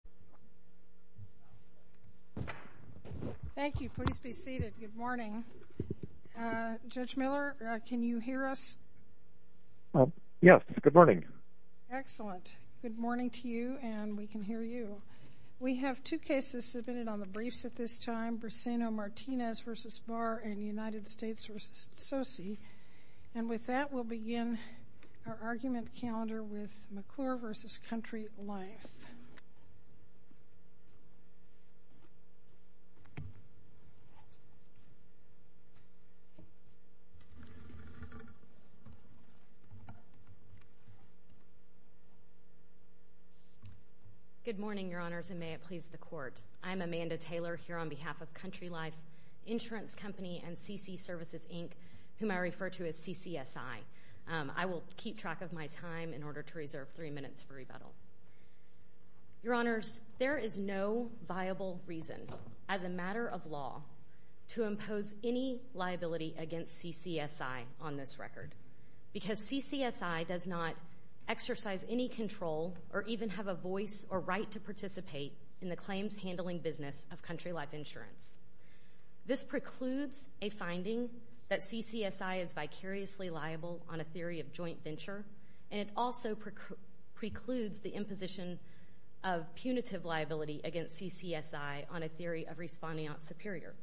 Lt. Gov. John M. Miller, D.C. Thank you. Please be seated. Good morning. Judge Miller, can you hear us? Yes. Good morning. Excellent. Good morning to you and we can hear you. We have two cases submitted on the briefs at this time, Brisseno-Martinez v. Barr and United States v. Sosi. I'm going to read the brief. I'm going to read the brief. I'm going to read the brief. I'm going to read the brief. I'm going to read the brief. Good morning, Your Honors, and may it please the Court. I'm Amanda Taylor here on behalf of Country Life Insurance Company and CC Services, Inc., whom I refer to as CCSI. I will keep track of my time in order to reserve three minutes for rebuttal. Your Honors, there is no viable reason, as a matter of law, to impose any liability against CCSI on this record, because CCSI does not exercise any control or even have a voice or right to participate in the claims handling business of Country Life Insurance. This precludes a finding that CCSI is vicariously liable on a theory of joint venture, and it also precludes the imposition of punitive liability against CCSI on a theory of respondeant superior.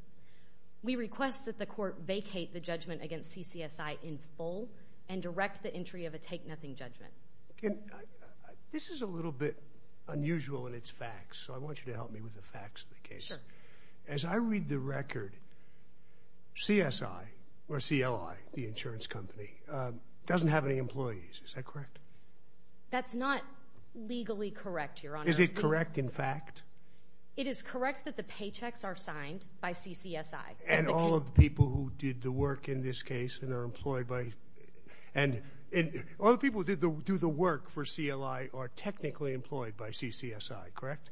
We request that the Court vacate the judgment against CCSI in full and direct the entry of a take-nothing judgment. This is a little bit unusual in its facts, so I want you to help me with the facts of the case. Sure. As I read the record, CSI, or CLI, the insurance company, doesn't have any employees. Is that correct? That's not legally correct, Your Honor. Is it correct, in fact? It is correct that the paychecks are signed by CCSI. And all of the people who did the work in this case and are employed by—and all the people who do the work for CLI are technically employed by CCSI, correct?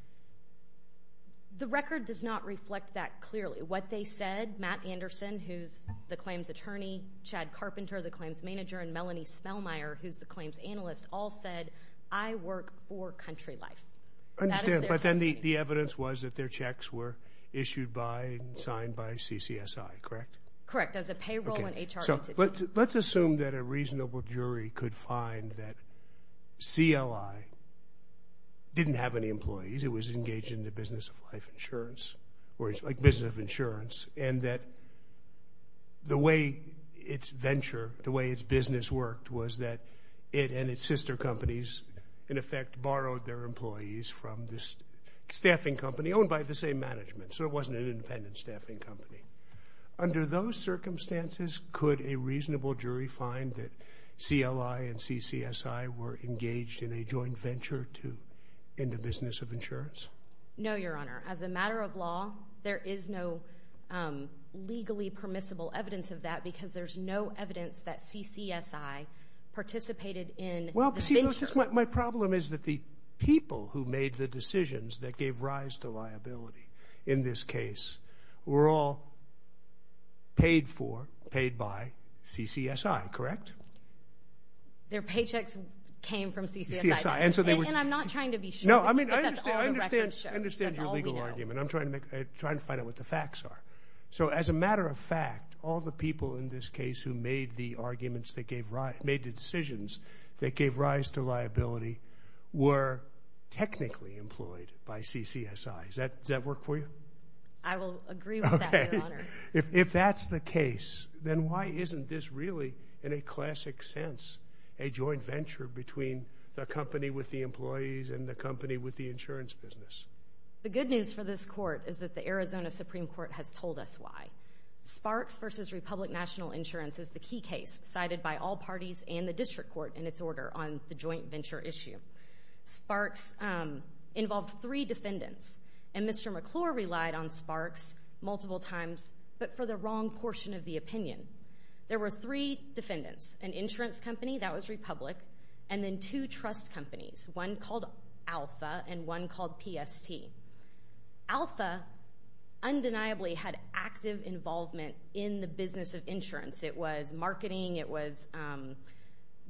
The record does not reflect that clearly. What they said, Matt Anderson, who's the claims attorney, Chad Carpenter, the claims attorney, who's the claims analyst, all said, I work for Country Life. That is their testimony. I understand. But then the evidence was that their checks were issued by and signed by CCSI, correct? Correct. As a payroll and HR entity. Okay. So let's assume that a reasonable jury could find that CLI didn't have any employees. It was engaged in the business of life insurance, or business of insurance, and that the way its venture, the way its business worked, was that it and its sister companies, in effect, borrowed their employees from this staffing company owned by the same management. So it wasn't an independent staffing company. Under those circumstances, could a reasonable jury find that CLI and CCSI were engaged in a joint venture to end a business of insurance? No, Your Honor. As a matter of law, there is no legally permissible evidence of that because there's no evidence that CCSI participated in the venture. Well, see, my problem is that the people who made the decisions that gave rise to liability in this case were all paid for, paid by, CCSI, correct? Their paychecks came from CCSI. And I'm not trying to be sure if that's all the records show. That's all we know. I understand your legal argument. I'm trying to find out what the facts are. So as a matter of fact, all the people in this case who made the arguments that gave rise, made the decisions that gave rise to liability, were technically employed by CCSI. Does that work for you? I will agree with that, Your Honor. If that's the case, then why isn't this really, in a classic sense, a joint venture between the company with the employees and the company with the insurance business? The good news for this Court is that the Arizona Supreme Court has told us why. Sparks v. Republic National Insurance is the key case cited by all parties and the District Court in its order on the joint venture issue. Sparks involved three defendants, and Mr. McClure relied on Sparks multiple times but for the wrong portion of the opinion. There were three defendants, an insurance company, that was Republic, and then two trust companies, one called Alpha and one called PST. Alpha undeniably had active involvement in the business of insurance. It was marketing. It was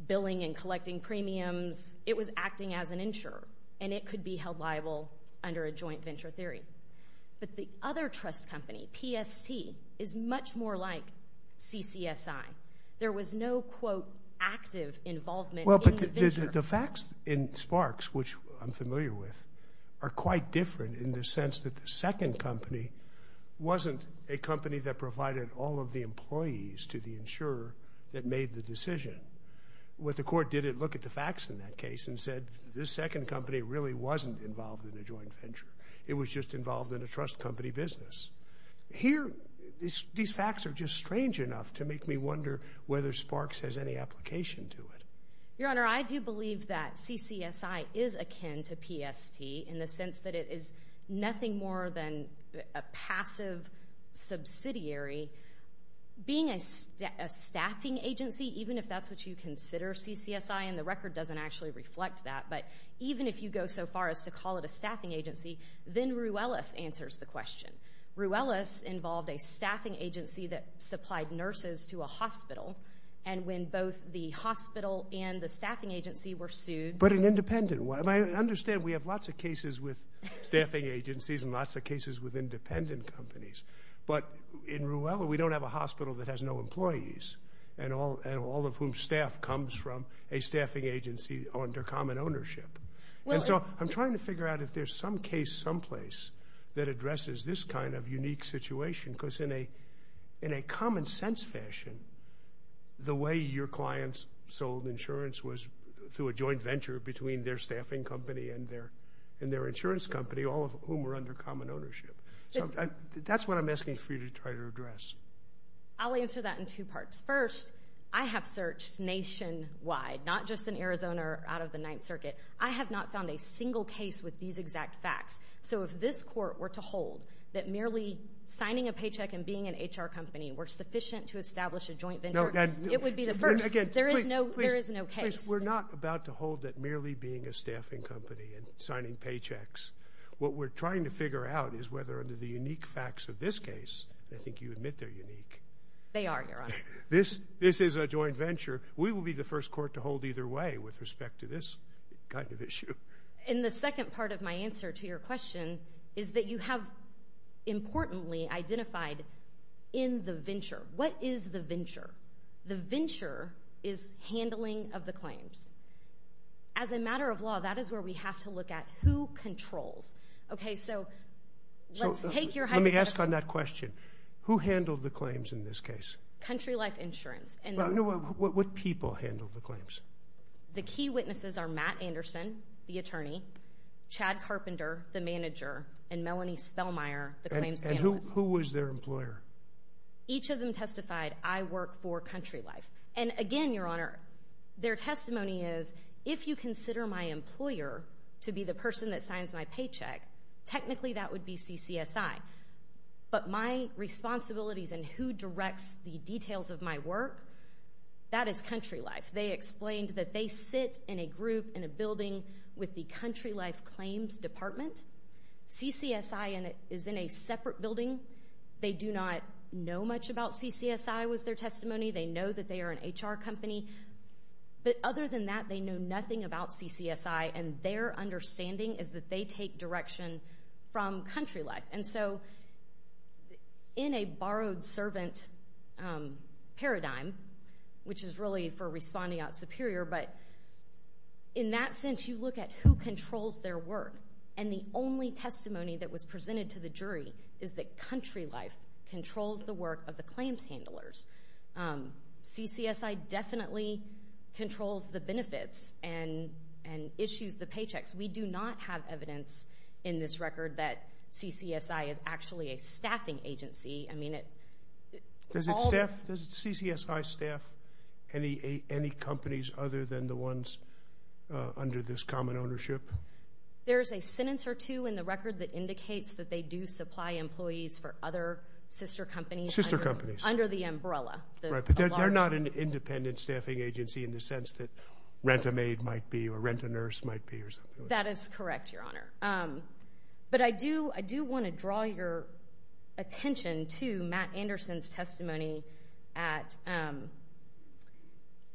billing and collecting premiums. It was acting as an insurer, and it could be held liable under a joint venture theory. But the other trust company, PST, is much more like CCSI. There was no, quote, active involvement in the venture. The facts in Sparks, which I'm familiar with, are quite different in the sense that the second company wasn't a company that provided all of the employees to the insurer that made the decision. What the Court did, it looked at the facts in that case and said, this second company really wasn't involved in a joint venture. It was just involved in a trust company business. Here these facts are just strange enough to make me wonder whether Sparks has any application to it. Your Honor, I do believe that CCSI is akin to PST in the sense that it is nothing more than a passive subsidiary. Being a staffing agency, even if that's what you consider CCSI and the record doesn't actually then Ruelas answers the question. Ruelas involved a staffing agency that supplied nurses to a hospital. And when both the hospital and the staffing agency were sued But an independent one. I understand we have lots of cases with staffing agencies and lots of cases with independent companies. But in Ruelas, we don't have a hospital that has no employees, and all of whom staff comes from a staffing agency under common ownership. And so I'm trying to figure out if there's some case someplace that addresses this kind of unique situation. Because in a common sense fashion, the way your clients sold insurance was through a joint venture between their staffing company and their insurance company, all of whom were under common ownership. That's what I'm asking for you to try to address. I'll answer that in two parts. First, I have searched nationwide. Not just in Arizona or out of the Ninth Circuit. I have not found a single case with these exact facts. So if this court were to hold that merely signing a paycheck and being an HR company were sufficient to establish a joint venture, it would be the first. There is no case. Please, we're not about to hold that merely being a staffing company and signing paychecks. What we're trying to figure out is whether under the unique facts of this case, I think you admit they're unique. They are, Your Honor. This is a joint venture. We will be the first court to hold either way with respect to this kind of issue. And the second part of my answer to your question is that you have importantly identified in the venture. What is the venture? The venture is handling of the claims. As a matter of law, that is where we have to look at who controls. Okay, so let's take your hypothetical. Let me ask on that question. Who handled the claims in this case? Country Life Insurance. Well, no, what people handled the claims? The key witnesses are Matt Anderson, the attorney, Chad Carpenter, the manager, and Melanie Spellmeyer, the claims analyst. And who was their employer? Each of them testified, I work for Country Life. And again, Your Honor, their testimony is, if you consider my employer to be the person that signs my paycheck, technically that would be CCSI. But my responsibilities and who directs the details of my work, that is Country Life. They explained that they sit in a group in a building with the Country Life Claims Department. CCSI is in a separate building. They do not know much about CCSI was their testimony. They know that they are an HR company. But other than that, they know nothing about CCSI. And their understanding is that they take direction from Country Life. And so, in a borrowed servant paradigm, which is really for responding out superior, but in that sense, you look at who controls their work. And the only testimony that was presented to the jury is that Country Life controls the work of the claims handlers. CCSI definitely controls the benefits and issues the paychecks. We do not have evidence in this record that CCSI is actually a staffing agency. I mean, it all- Does CCSI staff any companies other than the ones under this common ownership? There's a sentence or two in the record that indicates that they do supply employees for other sister companies. Sister companies. Under the umbrella. They're not an independent staffing agency in the sense that Rent-A-Maid might be or Rent-A-Nurse might be. That is correct, Your Honor. But I do want to draw your attention to Matt Anderson's testimony at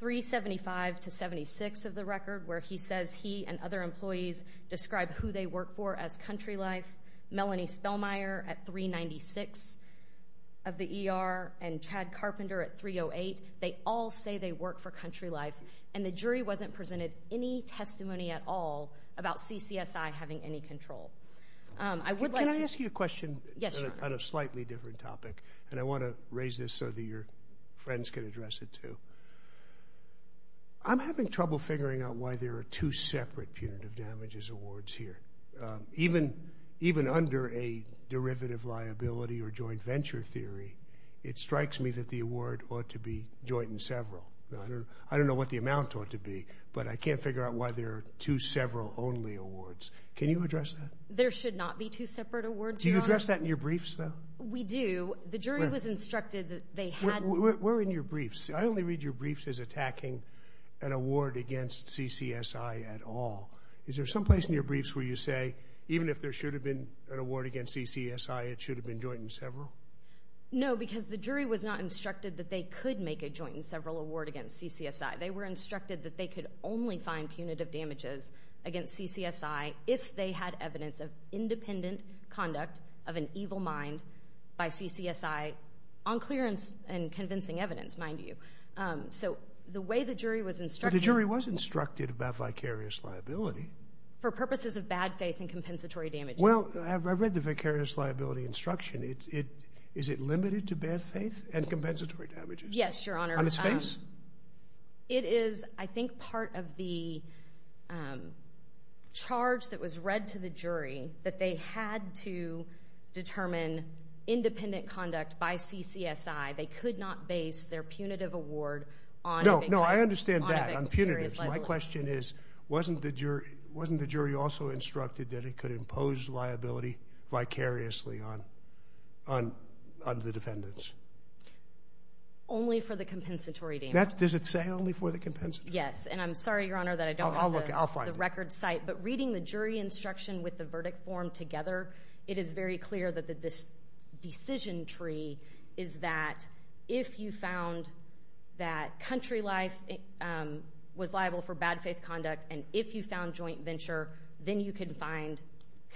375 to 76 of the record, where he says he and other employees describe who they work for as Country Life. Melanie Spellmeyer at 396 of the ER and Chad Carpenter at 308, they all say they work for Country Life, and the jury wasn't presented any testimony at all about CCSI having any control. Can I ask you a question on a slightly different topic? And I want to raise this so that your friends can address it, too. I'm having trouble figuring out why there are two separate punitive damages awards here. Even under a derivative liability or joint venture theory, it strikes me that the award ought to be joint and several. I don't know what the amount ought to be, but I can't figure out why there are two several only awards. Can you address that? There should not be two separate awards, Your Honor. Do you address that in your briefs, though? We do. The jury was instructed that they had to. Where in your briefs? I only read your briefs as attacking an award against CCSI at all. Is there someplace in your briefs where you say, even if there should have been an award against CCSI, it should have been joint and several? No, because the jury was not instructed that they could make a joint and several award against CCSI. They were instructed that they could only find punitive damages against CCSI if they had evidence of independent conduct of an evil mind by CCSI on clearance and convincing evidence, mind you. So the way the jury was instructed— For purposes of bad faith and compensatory damages. Well, I read the vicarious liability instruction. Is it limited to bad faith and compensatory damages? Yes, Your Honor. On its face? It is, I think, part of the charge that was read to the jury that they had to determine independent conduct by CCSI. They could not base their punitive award on a vicarious liability. No, I understand that, on punitive. My question is, wasn't the jury also instructed that it could impose liability vicariously on the defendants? Only for the compensatory damages. Does it say only for the compensatory? Yes, and I'm sorry, Your Honor, that I don't have the record site. I'll find it. But reading the jury instruction with the verdict form together, it is very clear that this decision tree is that if you found that country life was liable for bad faith conduct, and if you found joint venture, then you could find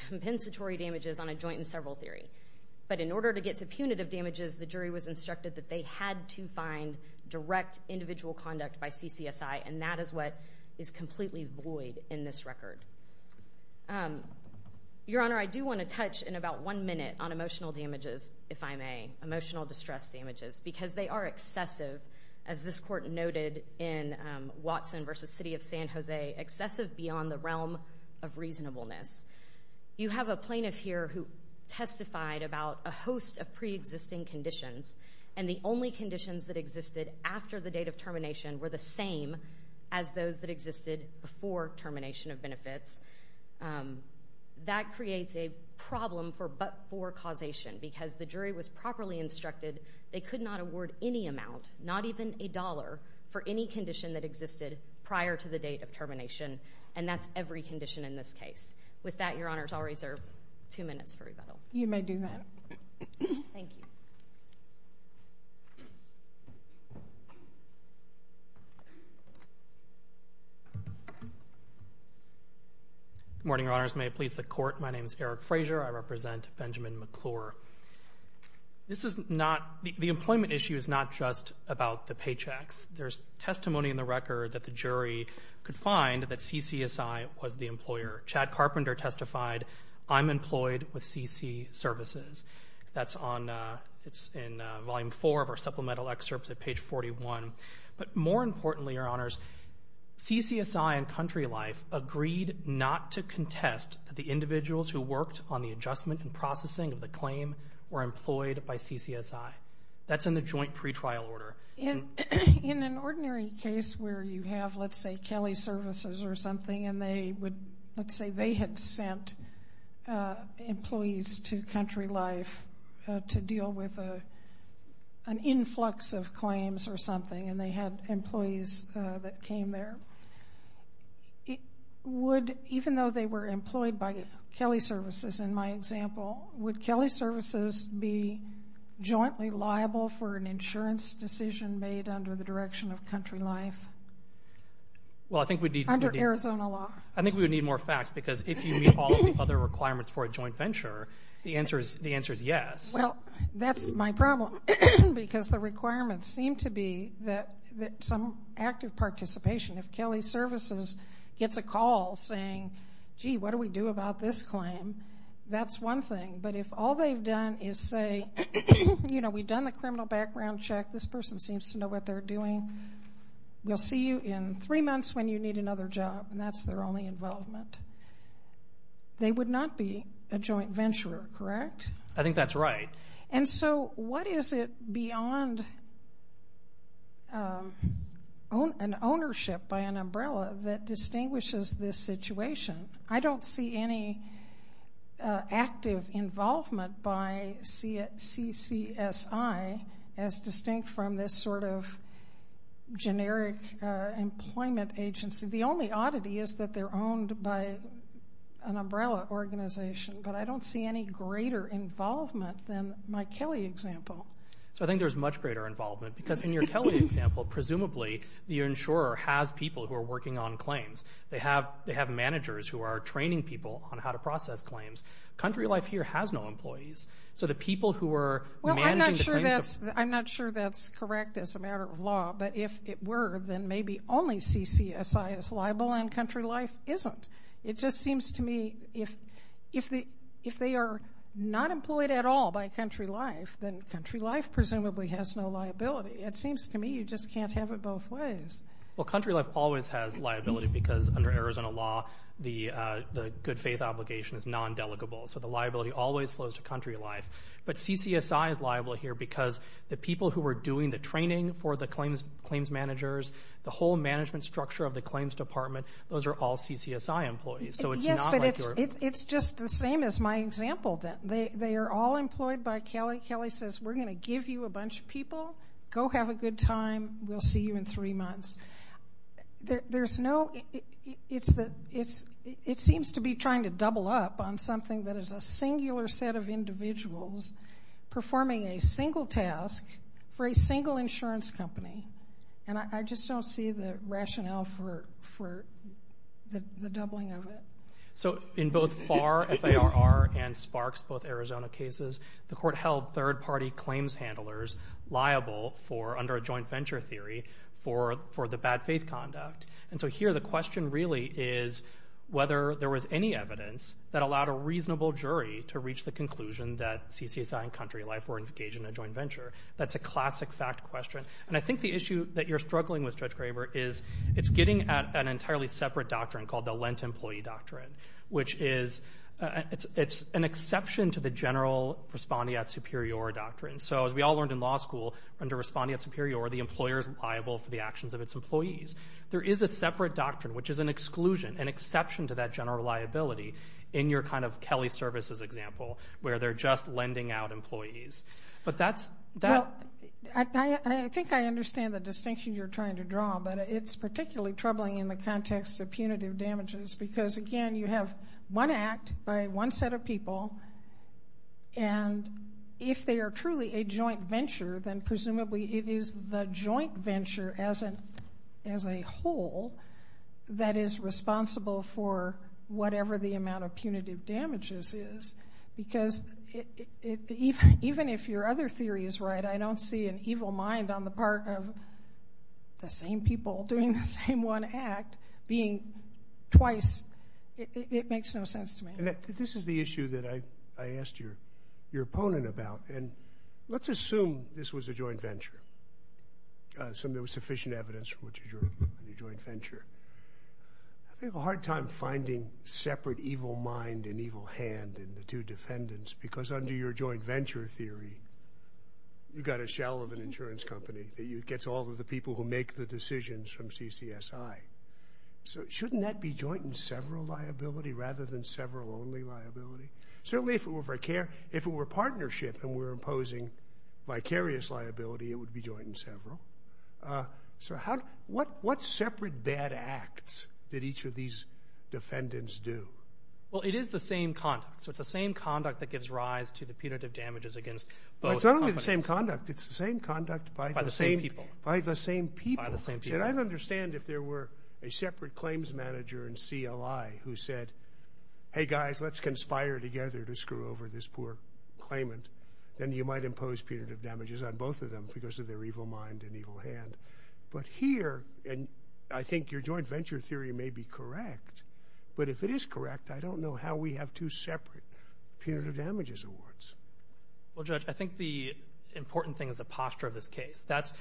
compensatory damages on a joint in several theory. But in order to get to punitive damages, the jury was instructed that they had to find direct individual conduct by CCSI, and that is what is completely void in this record. Your Honor, I do want to touch in about one minute on emotional damages, if I may, emotional distress damages, because they are excessive, as this Court noted in Watson v. City of San Jose, excessive beyond the realm of reasonableness. You have a plaintiff here who testified about a host of preexisting conditions, and the only conditions that existed after the date of termination were the same as those that existed before termination of benefits. That creates a problem for but-for causation, because the jury was properly instructed, they could not award any amount, not even a dollar, for any condition that existed prior to the date of termination, and that's every condition in this case. With that, Your Honors, I'll reserve two minutes for rebuttal. You may do that. Thank you. Good morning, Your Honors. May it please the Court, my name is Eric Fraser. I represent Benjamin McClure. This is not, the employment issue is not just about the paychecks. There's testimony in the record that the jury could find that CCSI was the employer. Chad Carpenter testified, I'm employed with CC Services. That's on, it's in Volume 4 of our supplemental excerpt at page 41. But more importantly, Your Honors, CCSI and Country Life agreed not to contest the individuals who worked on the adjustment and processing of the claim were employed by CCSI. That's in the joint pretrial order. In an ordinary case where you have, let's say, Kelly Services or something, and they would, let's say they had sent employees to Country Life to deal with an influx of claims or something, and they had employees that came there. Would, even though they were employed by Kelly Services, in my example, would Kelly Services be jointly liable for an insurance decision made under the direction of Country Life? Well, I think we'd need more facts because if you meet all of the other requirements for a joint venture, the answer is yes. Well, that's my problem because the requirements seem to be that some active participation, if Kelly Services gets a call saying, gee, what do we do about this claim? That's one thing. But if all they've done is say, you know, we've done the criminal background check. This person seems to know what they're doing. We'll see you in three months when you need another job, and that's their only involvement. They would not be a joint venturer, correct? I think that's right. And so what is it beyond an ownership by an umbrella that distinguishes this situation? I don't see any active involvement by CCSI as distinct from this sort of generic employment agency. The only oddity is that they're owned by an umbrella organization, but I don't see any greater involvement than my Kelly example. So I think there's much greater involvement because in your Kelly example, presumably the insurer has people who are working on claims. They have managers who are training people on how to process claims. Country Life here has no employees. So the people who are managing the claims. Well, I'm not sure that's correct as a matter of law, but if it were, then maybe only CCSI is liable and Country Life isn't. It just seems to me if they are not employed at all by Country Life, then Country Life presumably has no liability. It seems to me you just can't have it both ways. Well, Country Life always has liability because under Arizona law, the good faith obligation is non-delegable. So the liability always flows to Country Life. But CCSI is liable here because the people who are doing the training for the claims managers, the whole management structure of the claims department, those are all CCSI employees. Yes, but it's just the same as my example. They are all employed by Kelly. Kelly says we're going to give you a bunch of people. Go have a good time. We'll see you in three months. It seems to be trying to double up on something that is a singular set of individuals performing a single task for a single insurance company. And I just don't see the rationale for the doubling of it. So in both FAR, FAR, and SPARKS, both Arizona cases, the court held third-party claims handlers liable under a joint venture theory for the bad faith conduct. And so here the question really is whether there was any evidence that allowed a reasonable jury to reach the conclusion that CCSI and Country Life were engaged in a joint venture. That's a classic fact question. And I think the issue that you're struggling with, Judge Graber, is it's getting at an entirely separate doctrine called the Lent Employee Doctrine, which is it's an exception to the general respondeat superior doctrine. So as we all learned in law school, under respondeat superior, the employer is liable for the actions of its employees. There is a separate doctrine, which is an exclusion, an exception to that general liability in your kind of Kelly services example where they're just lending out employees. Well, I think I understand the distinction you're trying to draw, but it's particularly troubling in the context of punitive damages, because, again, you have one act by one set of people, and if they are truly a joint venture, then presumably it is the joint venture as a whole that is responsible for whatever the amount of punitive damages is. Because even if your other theory is right, I don't see an evil mind on the part of the same people doing the same one act being twice. It makes no sense to me. This is the issue that I asked your opponent about. And let's assume this was a joint venture, so there was sufficient evidence for it to be a joint venture. I have a hard time finding separate evil mind and evil hand in the two defendants because under your joint venture theory, you've got a shell of an insurance company that gets all of the people who make the decisions from CCSI. So shouldn't that be joint and several liability rather than several only liability? Certainly if it were partnership and we're imposing vicarious liability, it would be joint and several. So what separate bad acts did each of these defendants do? Well, it is the same conduct. So it's the same conduct that gives rise to the punitive damages against both companies. It's not only the same conduct. It's the same conduct by the same people. By the same people. By the same people. And I'd understand if there were a separate claims manager in CLI who said, hey, guys, let's conspire together to screw over this poor claimant, then you might impose punitive damages on both of them because of their evil mind and evil hand. But here, and I think your joint venture theory may be correct, but if it is correct, I don't know how we have two separate punitive damages awards. Well, Judge, I think the important thing is the posture of this case. That's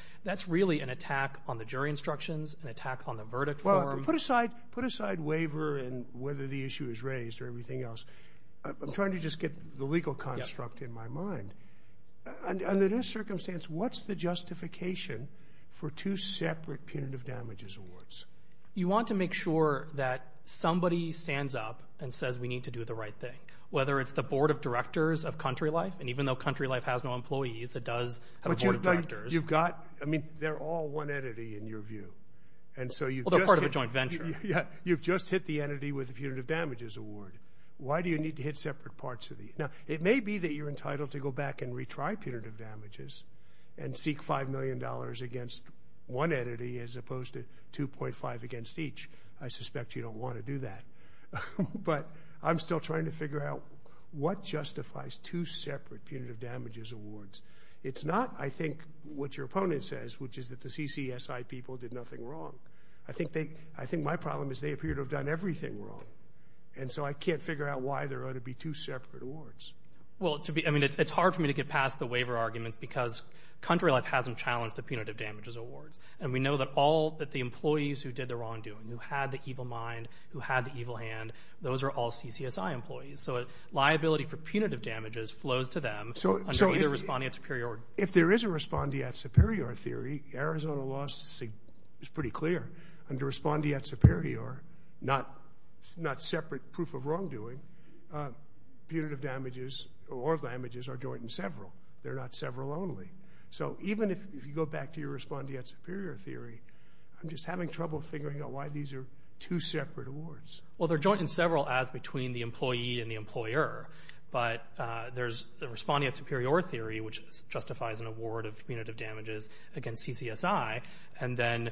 really an attack on the jury instructions, an attack on the verdict form. Well, put aside waiver and whether the issue is raised or everything else. I'm trying to just get the legal construct in my mind. Under this circumstance, what's the justification for two separate punitive damages awards? You want to make sure that somebody stands up and says we need to do the right thing, whether it's the Board of Directors of CountryLife, and even though CountryLife has no employees, it does have a Board of Directors. But you've got, I mean, they're all one entity in your view. Although part of a joint venture. You've just hit the entity with a punitive damages award. Why do you need to hit separate parts of these? Now, it may be that you're entitled to go back and retry punitive damages and seek $5 million against one entity as opposed to 2.5 against each. I suspect you don't want to do that. But I'm still trying to figure out what justifies two separate punitive damages awards. It's not, I think, what your opponent says, which is that the CCSI people did nothing wrong. I think my problem is they appear to have done everything wrong. And so I can't figure out why there ought to be two separate awards. Well, I mean, it's hard for me to get past the waiver arguments because CountryLife hasn't challenged the punitive damages awards. And we know that all the employees who did the wrongdoing, who had the evil mind, who had the evil hand, those are all CCSI employees. So liability for punitive damages flows to them under either respondeat superior. Arizona law is pretty clear. Under respondeat superior, not separate proof of wrongdoing, punitive damages or damages are joint in several. They're not several only. So even if you go back to your respondeat superior theory, I'm just having trouble figuring out why these are two separate awards. Well, they're joint in several as between the employee and the employer. But there's the respondeat superior theory, which justifies an award of punitive damages against CCSI. And then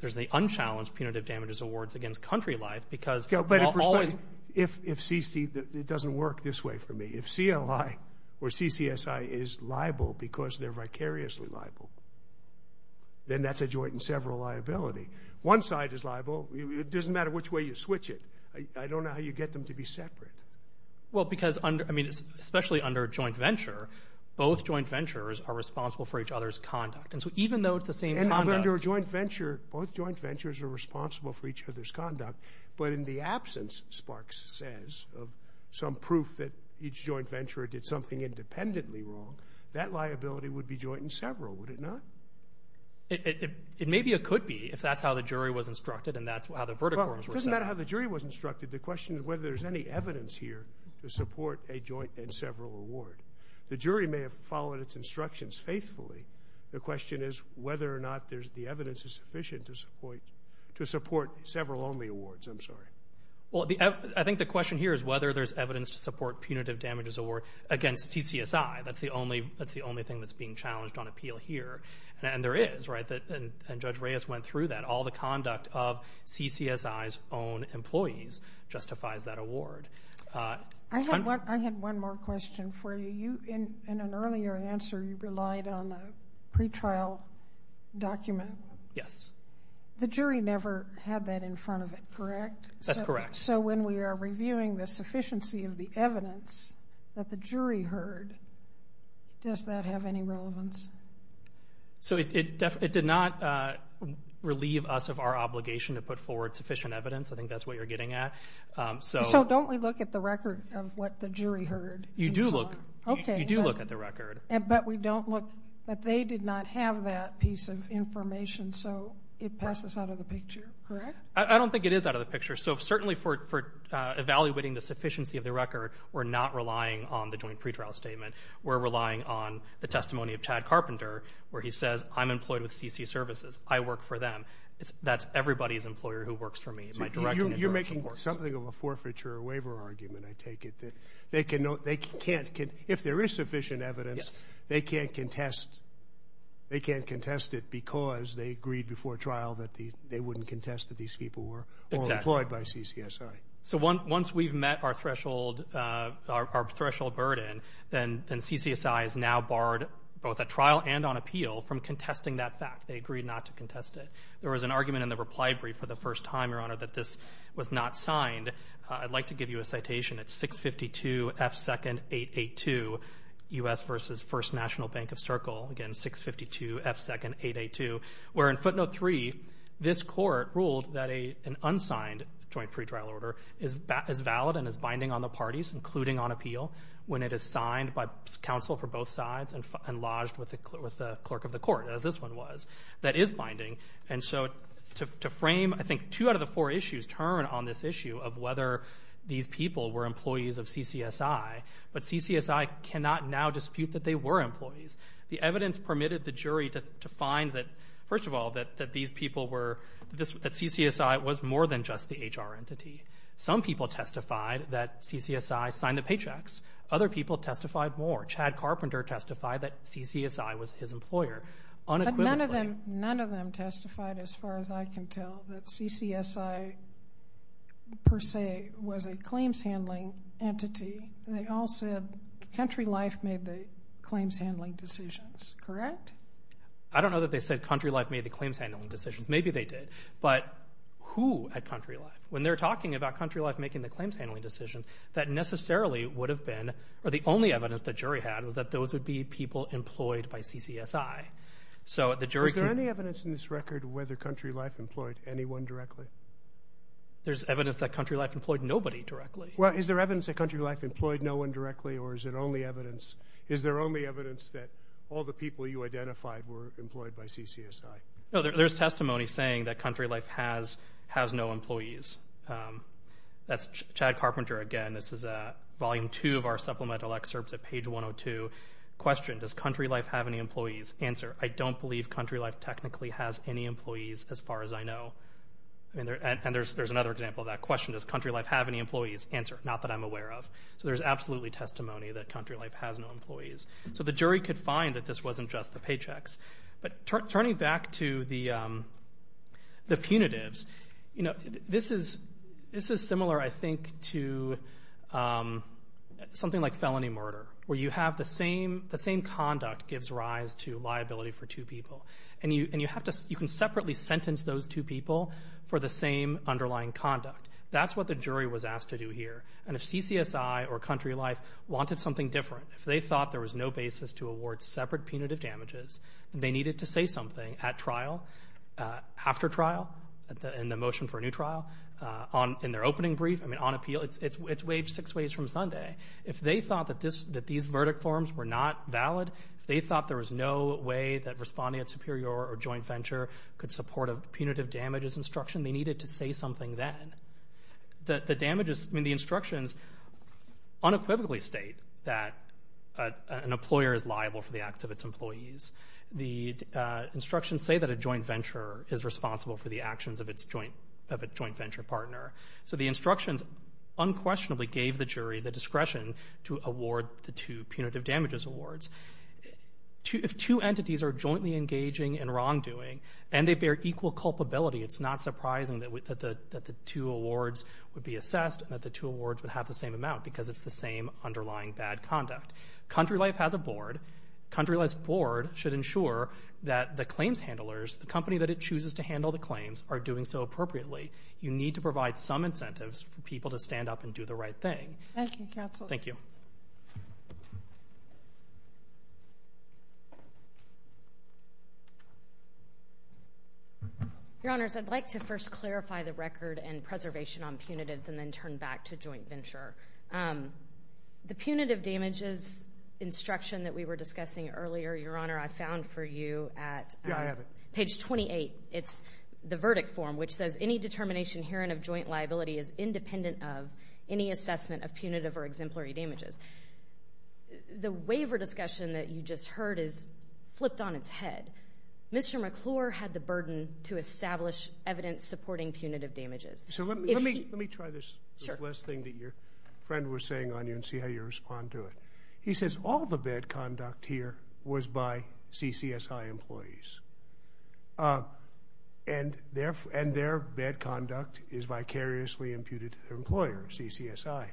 there's the unchallenged punitive damages awards against CountryLife because they're always- Yeah, but if CC, it doesn't work this way for me. If CLI or CCSI is liable because they're vicariously liable, then that's a joint in several liability. One side is liable. It doesn't matter which way you switch it. I don't know how you get them to be separate. Well, because, I mean, especially under a joint venture, both joint ventures are responsible for each other's conduct. And so even though it's the same conduct- And under a joint venture, both joint ventures are responsible for each other's conduct. But in the absence, Sparks says, of some proof that each joint venture did something independently wrong, that liability would be joint in several, would it not? It may be or could be if that's how the jury was instructed and that's how the verdict forms were set. Well, it doesn't matter how the jury was instructed. The question is whether there's any evidence here to support a joint in several award. The jury may have followed its instructions faithfully. The question is whether or not the evidence is sufficient to support several only awards. I'm sorry. Well, I think the question here is whether there's evidence to support punitive damages award against CCSI. That's the only thing that's being challenged on appeal here. And there is, right? And Judge Reyes went through that. All the conduct of CCSI's own employees justifies that award. I had one more question for you. In an earlier answer, you relied on a pretrial document. Yes. The jury never had that in front of it, correct? That's correct. So when we are reviewing the sufficiency of the evidence that the jury heard, does that have any relevance? So it did not relieve us of our obligation to put forward sufficient evidence. I think that's what you're getting at. So don't we look at the record of what the jury heard? You do look at the record. But we don't look that they did not have that piece of information, so it passes out of the picture, correct? I don't think it is out of the picture. So certainly for evaluating the sufficiency of the record, we're not relying on the joint pretrial statement. We're relying on the testimony of Chad Carpenter, where he says, I'm employed with CC Services. I work for them. That's everybody's employer who works for me. You're making something of a forfeiture or waiver argument, I take it, that they can't, if there is sufficient evidence, they can't contest it because they agreed before trial that they wouldn't contest that these people were all employed by CCSI. So once we've met our threshold burden, then CCSI is now barred both at trial and on appeal from contesting that fact. They agreed not to contest it. There was an argument in the reply brief for the first time, Your Honor, that this was not signed. I'd like to give you a citation. It's 652 F. 2nd. 882 U.S. v. First National Bank of Circle. Again, 652 F. 2nd. 882. Where in footnote 3, this court ruled that an unsigned joint pretrial order is valid and is binding on the parties, including on appeal, when it is signed by counsel for both sides and lodged with the clerk of the court, as this one was, that is binding. And so to frame, I think, two out of the four issues turn on this issue of whether these people were employees of CCSI. But CCSI cannot now dispute that they were employees. The evidence permitted the jury to find that, first of all, that these people were that CCSI was more than just the HR entity. Some people testified that CCSI signed the paychecks. Other people testified more. Chad Carpenter testified that CCSI was his employer. But none of them testified, as far as I can tell, that CCSI, per se, was a claims handling entity. And they all said Country Life made the claims handling decisions, correct? I don't know that they said Country Life made the claims handling decisions. Maybe they did. But who at Country Life? When they're talking about Country Life making the claims handling decisions, that necessarily would have been, or the only evidence the jury had was that those would be people employed by CCSI. Is there any evidence in this record whether Country Life employed anyone directly? There's evidence that Country Life employed nobody directly. Well, is there evidence that Country Life employed no one directly, or is it only evidence? Is there only evidence that all the people you identified were employed by CCSI? No, there's testimony saying that Country Life has no employees. That's Chad Carpenter again. This is Volume 2 of our supplemental excerpts at page 102. Question, does Country Life have any employees? Answer, I don't believe Country Life technically has any employees, as far as I know. And there's another example of that. Question, does Country Life have any employees? Answer, not that I'm aware of. So there's absolutely testimony that Country Life has no employees. So the jury could find that this wasn't just the paychecks. But turning back to the punitives, this is similar, I think, to something like felony murder, where you have the same conduct gives rise to liability for two people. And you can separately sentence those two people for the same underlying conduct. That's what the jury was asked to do here. And if CCSI or Country Life wanted something different, if they thought there was no basis to award separate punitive damages, and they needed to say something at trial, after trial, in the motion for a new trial, in their opening brief, I mean on appeal, it's six ways from Sunday. If they thought that these verdict forms were not valid, if they thought there was no way that responding at superior or joint venture could support a punitive damages instruction, they needed to say something then. The instructions unequivocally state that an employer is liable for the acts of its employees. The instructions say that a joint venture is responsible for the actions of a joint venture partner. So the instructions unquestionably gave the jury the discretion to award the two punitive damages awards. If two entities are jointly engaging in wrongdoing, and they bear equal culpability, it's not surprising that the two awards would be assessed, and that the two awards would have the same amount because it's the same underlying bad conduct. Country Life has a board. Country Life's board should ensure that the claims handlers, the company that it chooses to handle the claims, are doing so appropriately. You need to provide some incentives for people to stand up and do the right thing. Thank you, counsel. Thank you. Your Honors, I'd like to first clarify the record and preservation on punitives and then turn back to joint venture. The punitive damages instruction that we were discussing earlier, Your Honor, I found for you at page 28. It's the verdict form, which says, any determination herein of joint liability is independent of any assessment of punitive or exemplary damages. The waiver discussion that you just heard is flipped on its head. Mr. McClure had the burden to establish evidence supporting punitive damages. So let me try this last thing that your friend was saying on you and see how you respond to it. He says all the bad conduct here was by CCSI employees, and their bad conduct is vicariously imputed to their employer, CCSI.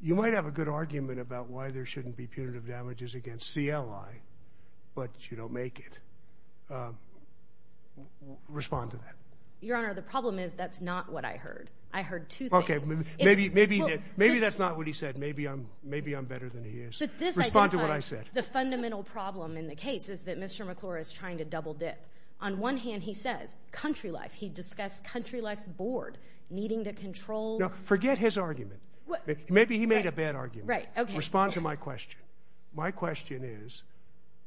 You might have a good argument about why there shouldn't be punitive damages against CLI, but you don't make it. Respond to that. Your Honor, the problem is that's not what I heard. I heard two things. Okay. Maybe that's not what he said. Maybe I'm better than he is. Respond to what I said. The fundamental problem in the case is that Mr. McClure is trying to double dip. On one hand, he says country life. He discussed country life's board needing to control. Forget his argument. Maybe he made a bad argument. Respond to my question. My question is,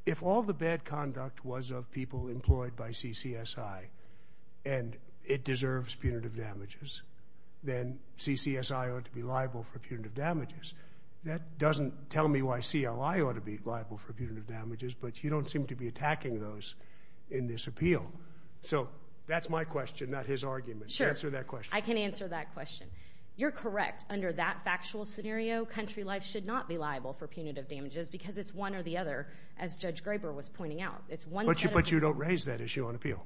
if all the bad conduct was of people employed by CCSI and it deserves punitive damages, then CCSI ought to be liable for punitive damages. That doesn't tell me why CLI ought to be liable for punitive damages, but you don't seem to be attacking those in this appeal. So that's my question, not his argument. Answer that question. I can answer that question. You're correct. Under that factual scenario, country life should not be liable for punitive damages because it's one or the other, But you don't raise that issue on appeal.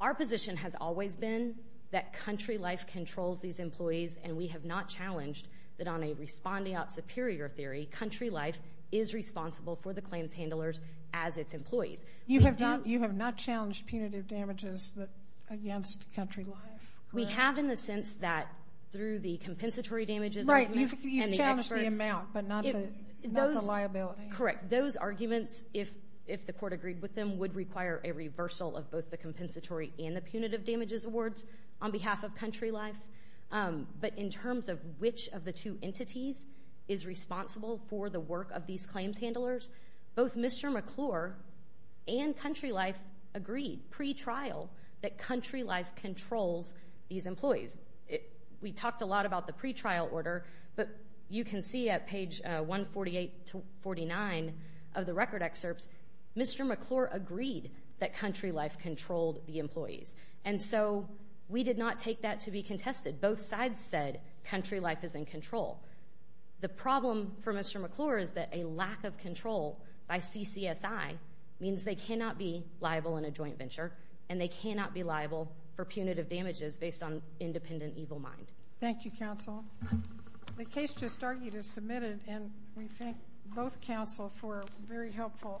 Our position has always been that country life controls these employees, and we have not challenged that on a respondeat superior theory, country life is responsible for the claims handlers as its employees. You have not challenged punitive damages against country life? We have in the sense that through the compensatory damages argument and the experts. Right. You've challenged the amount but not the liability. Correct. Those arguments, if the court agreed with them, would require a reversal of both the compensatory and the punitive damages awards on behalf of country life. But in terms of which of the two entities is responsible for the work of these claims handlers, both Mr. McClure and country life agreed pre-trial that country life controls these employees. We talked a lot about the pre-trial order, but you can see at page 148 to 149 of the record excerpts, Mr. McClure agreed that country life controlled the employees. And so we did not take that to be contested. Both sides said country life is in control. The problem for Mr. McClure is that a lack of control by CCSI means they cannot be liable in a joint venture and they cannot be liable for punitive damages based on independent evil mind. Thank you, counsel. The case just argued is submitted, and we thank both counsel for very helpful arguments.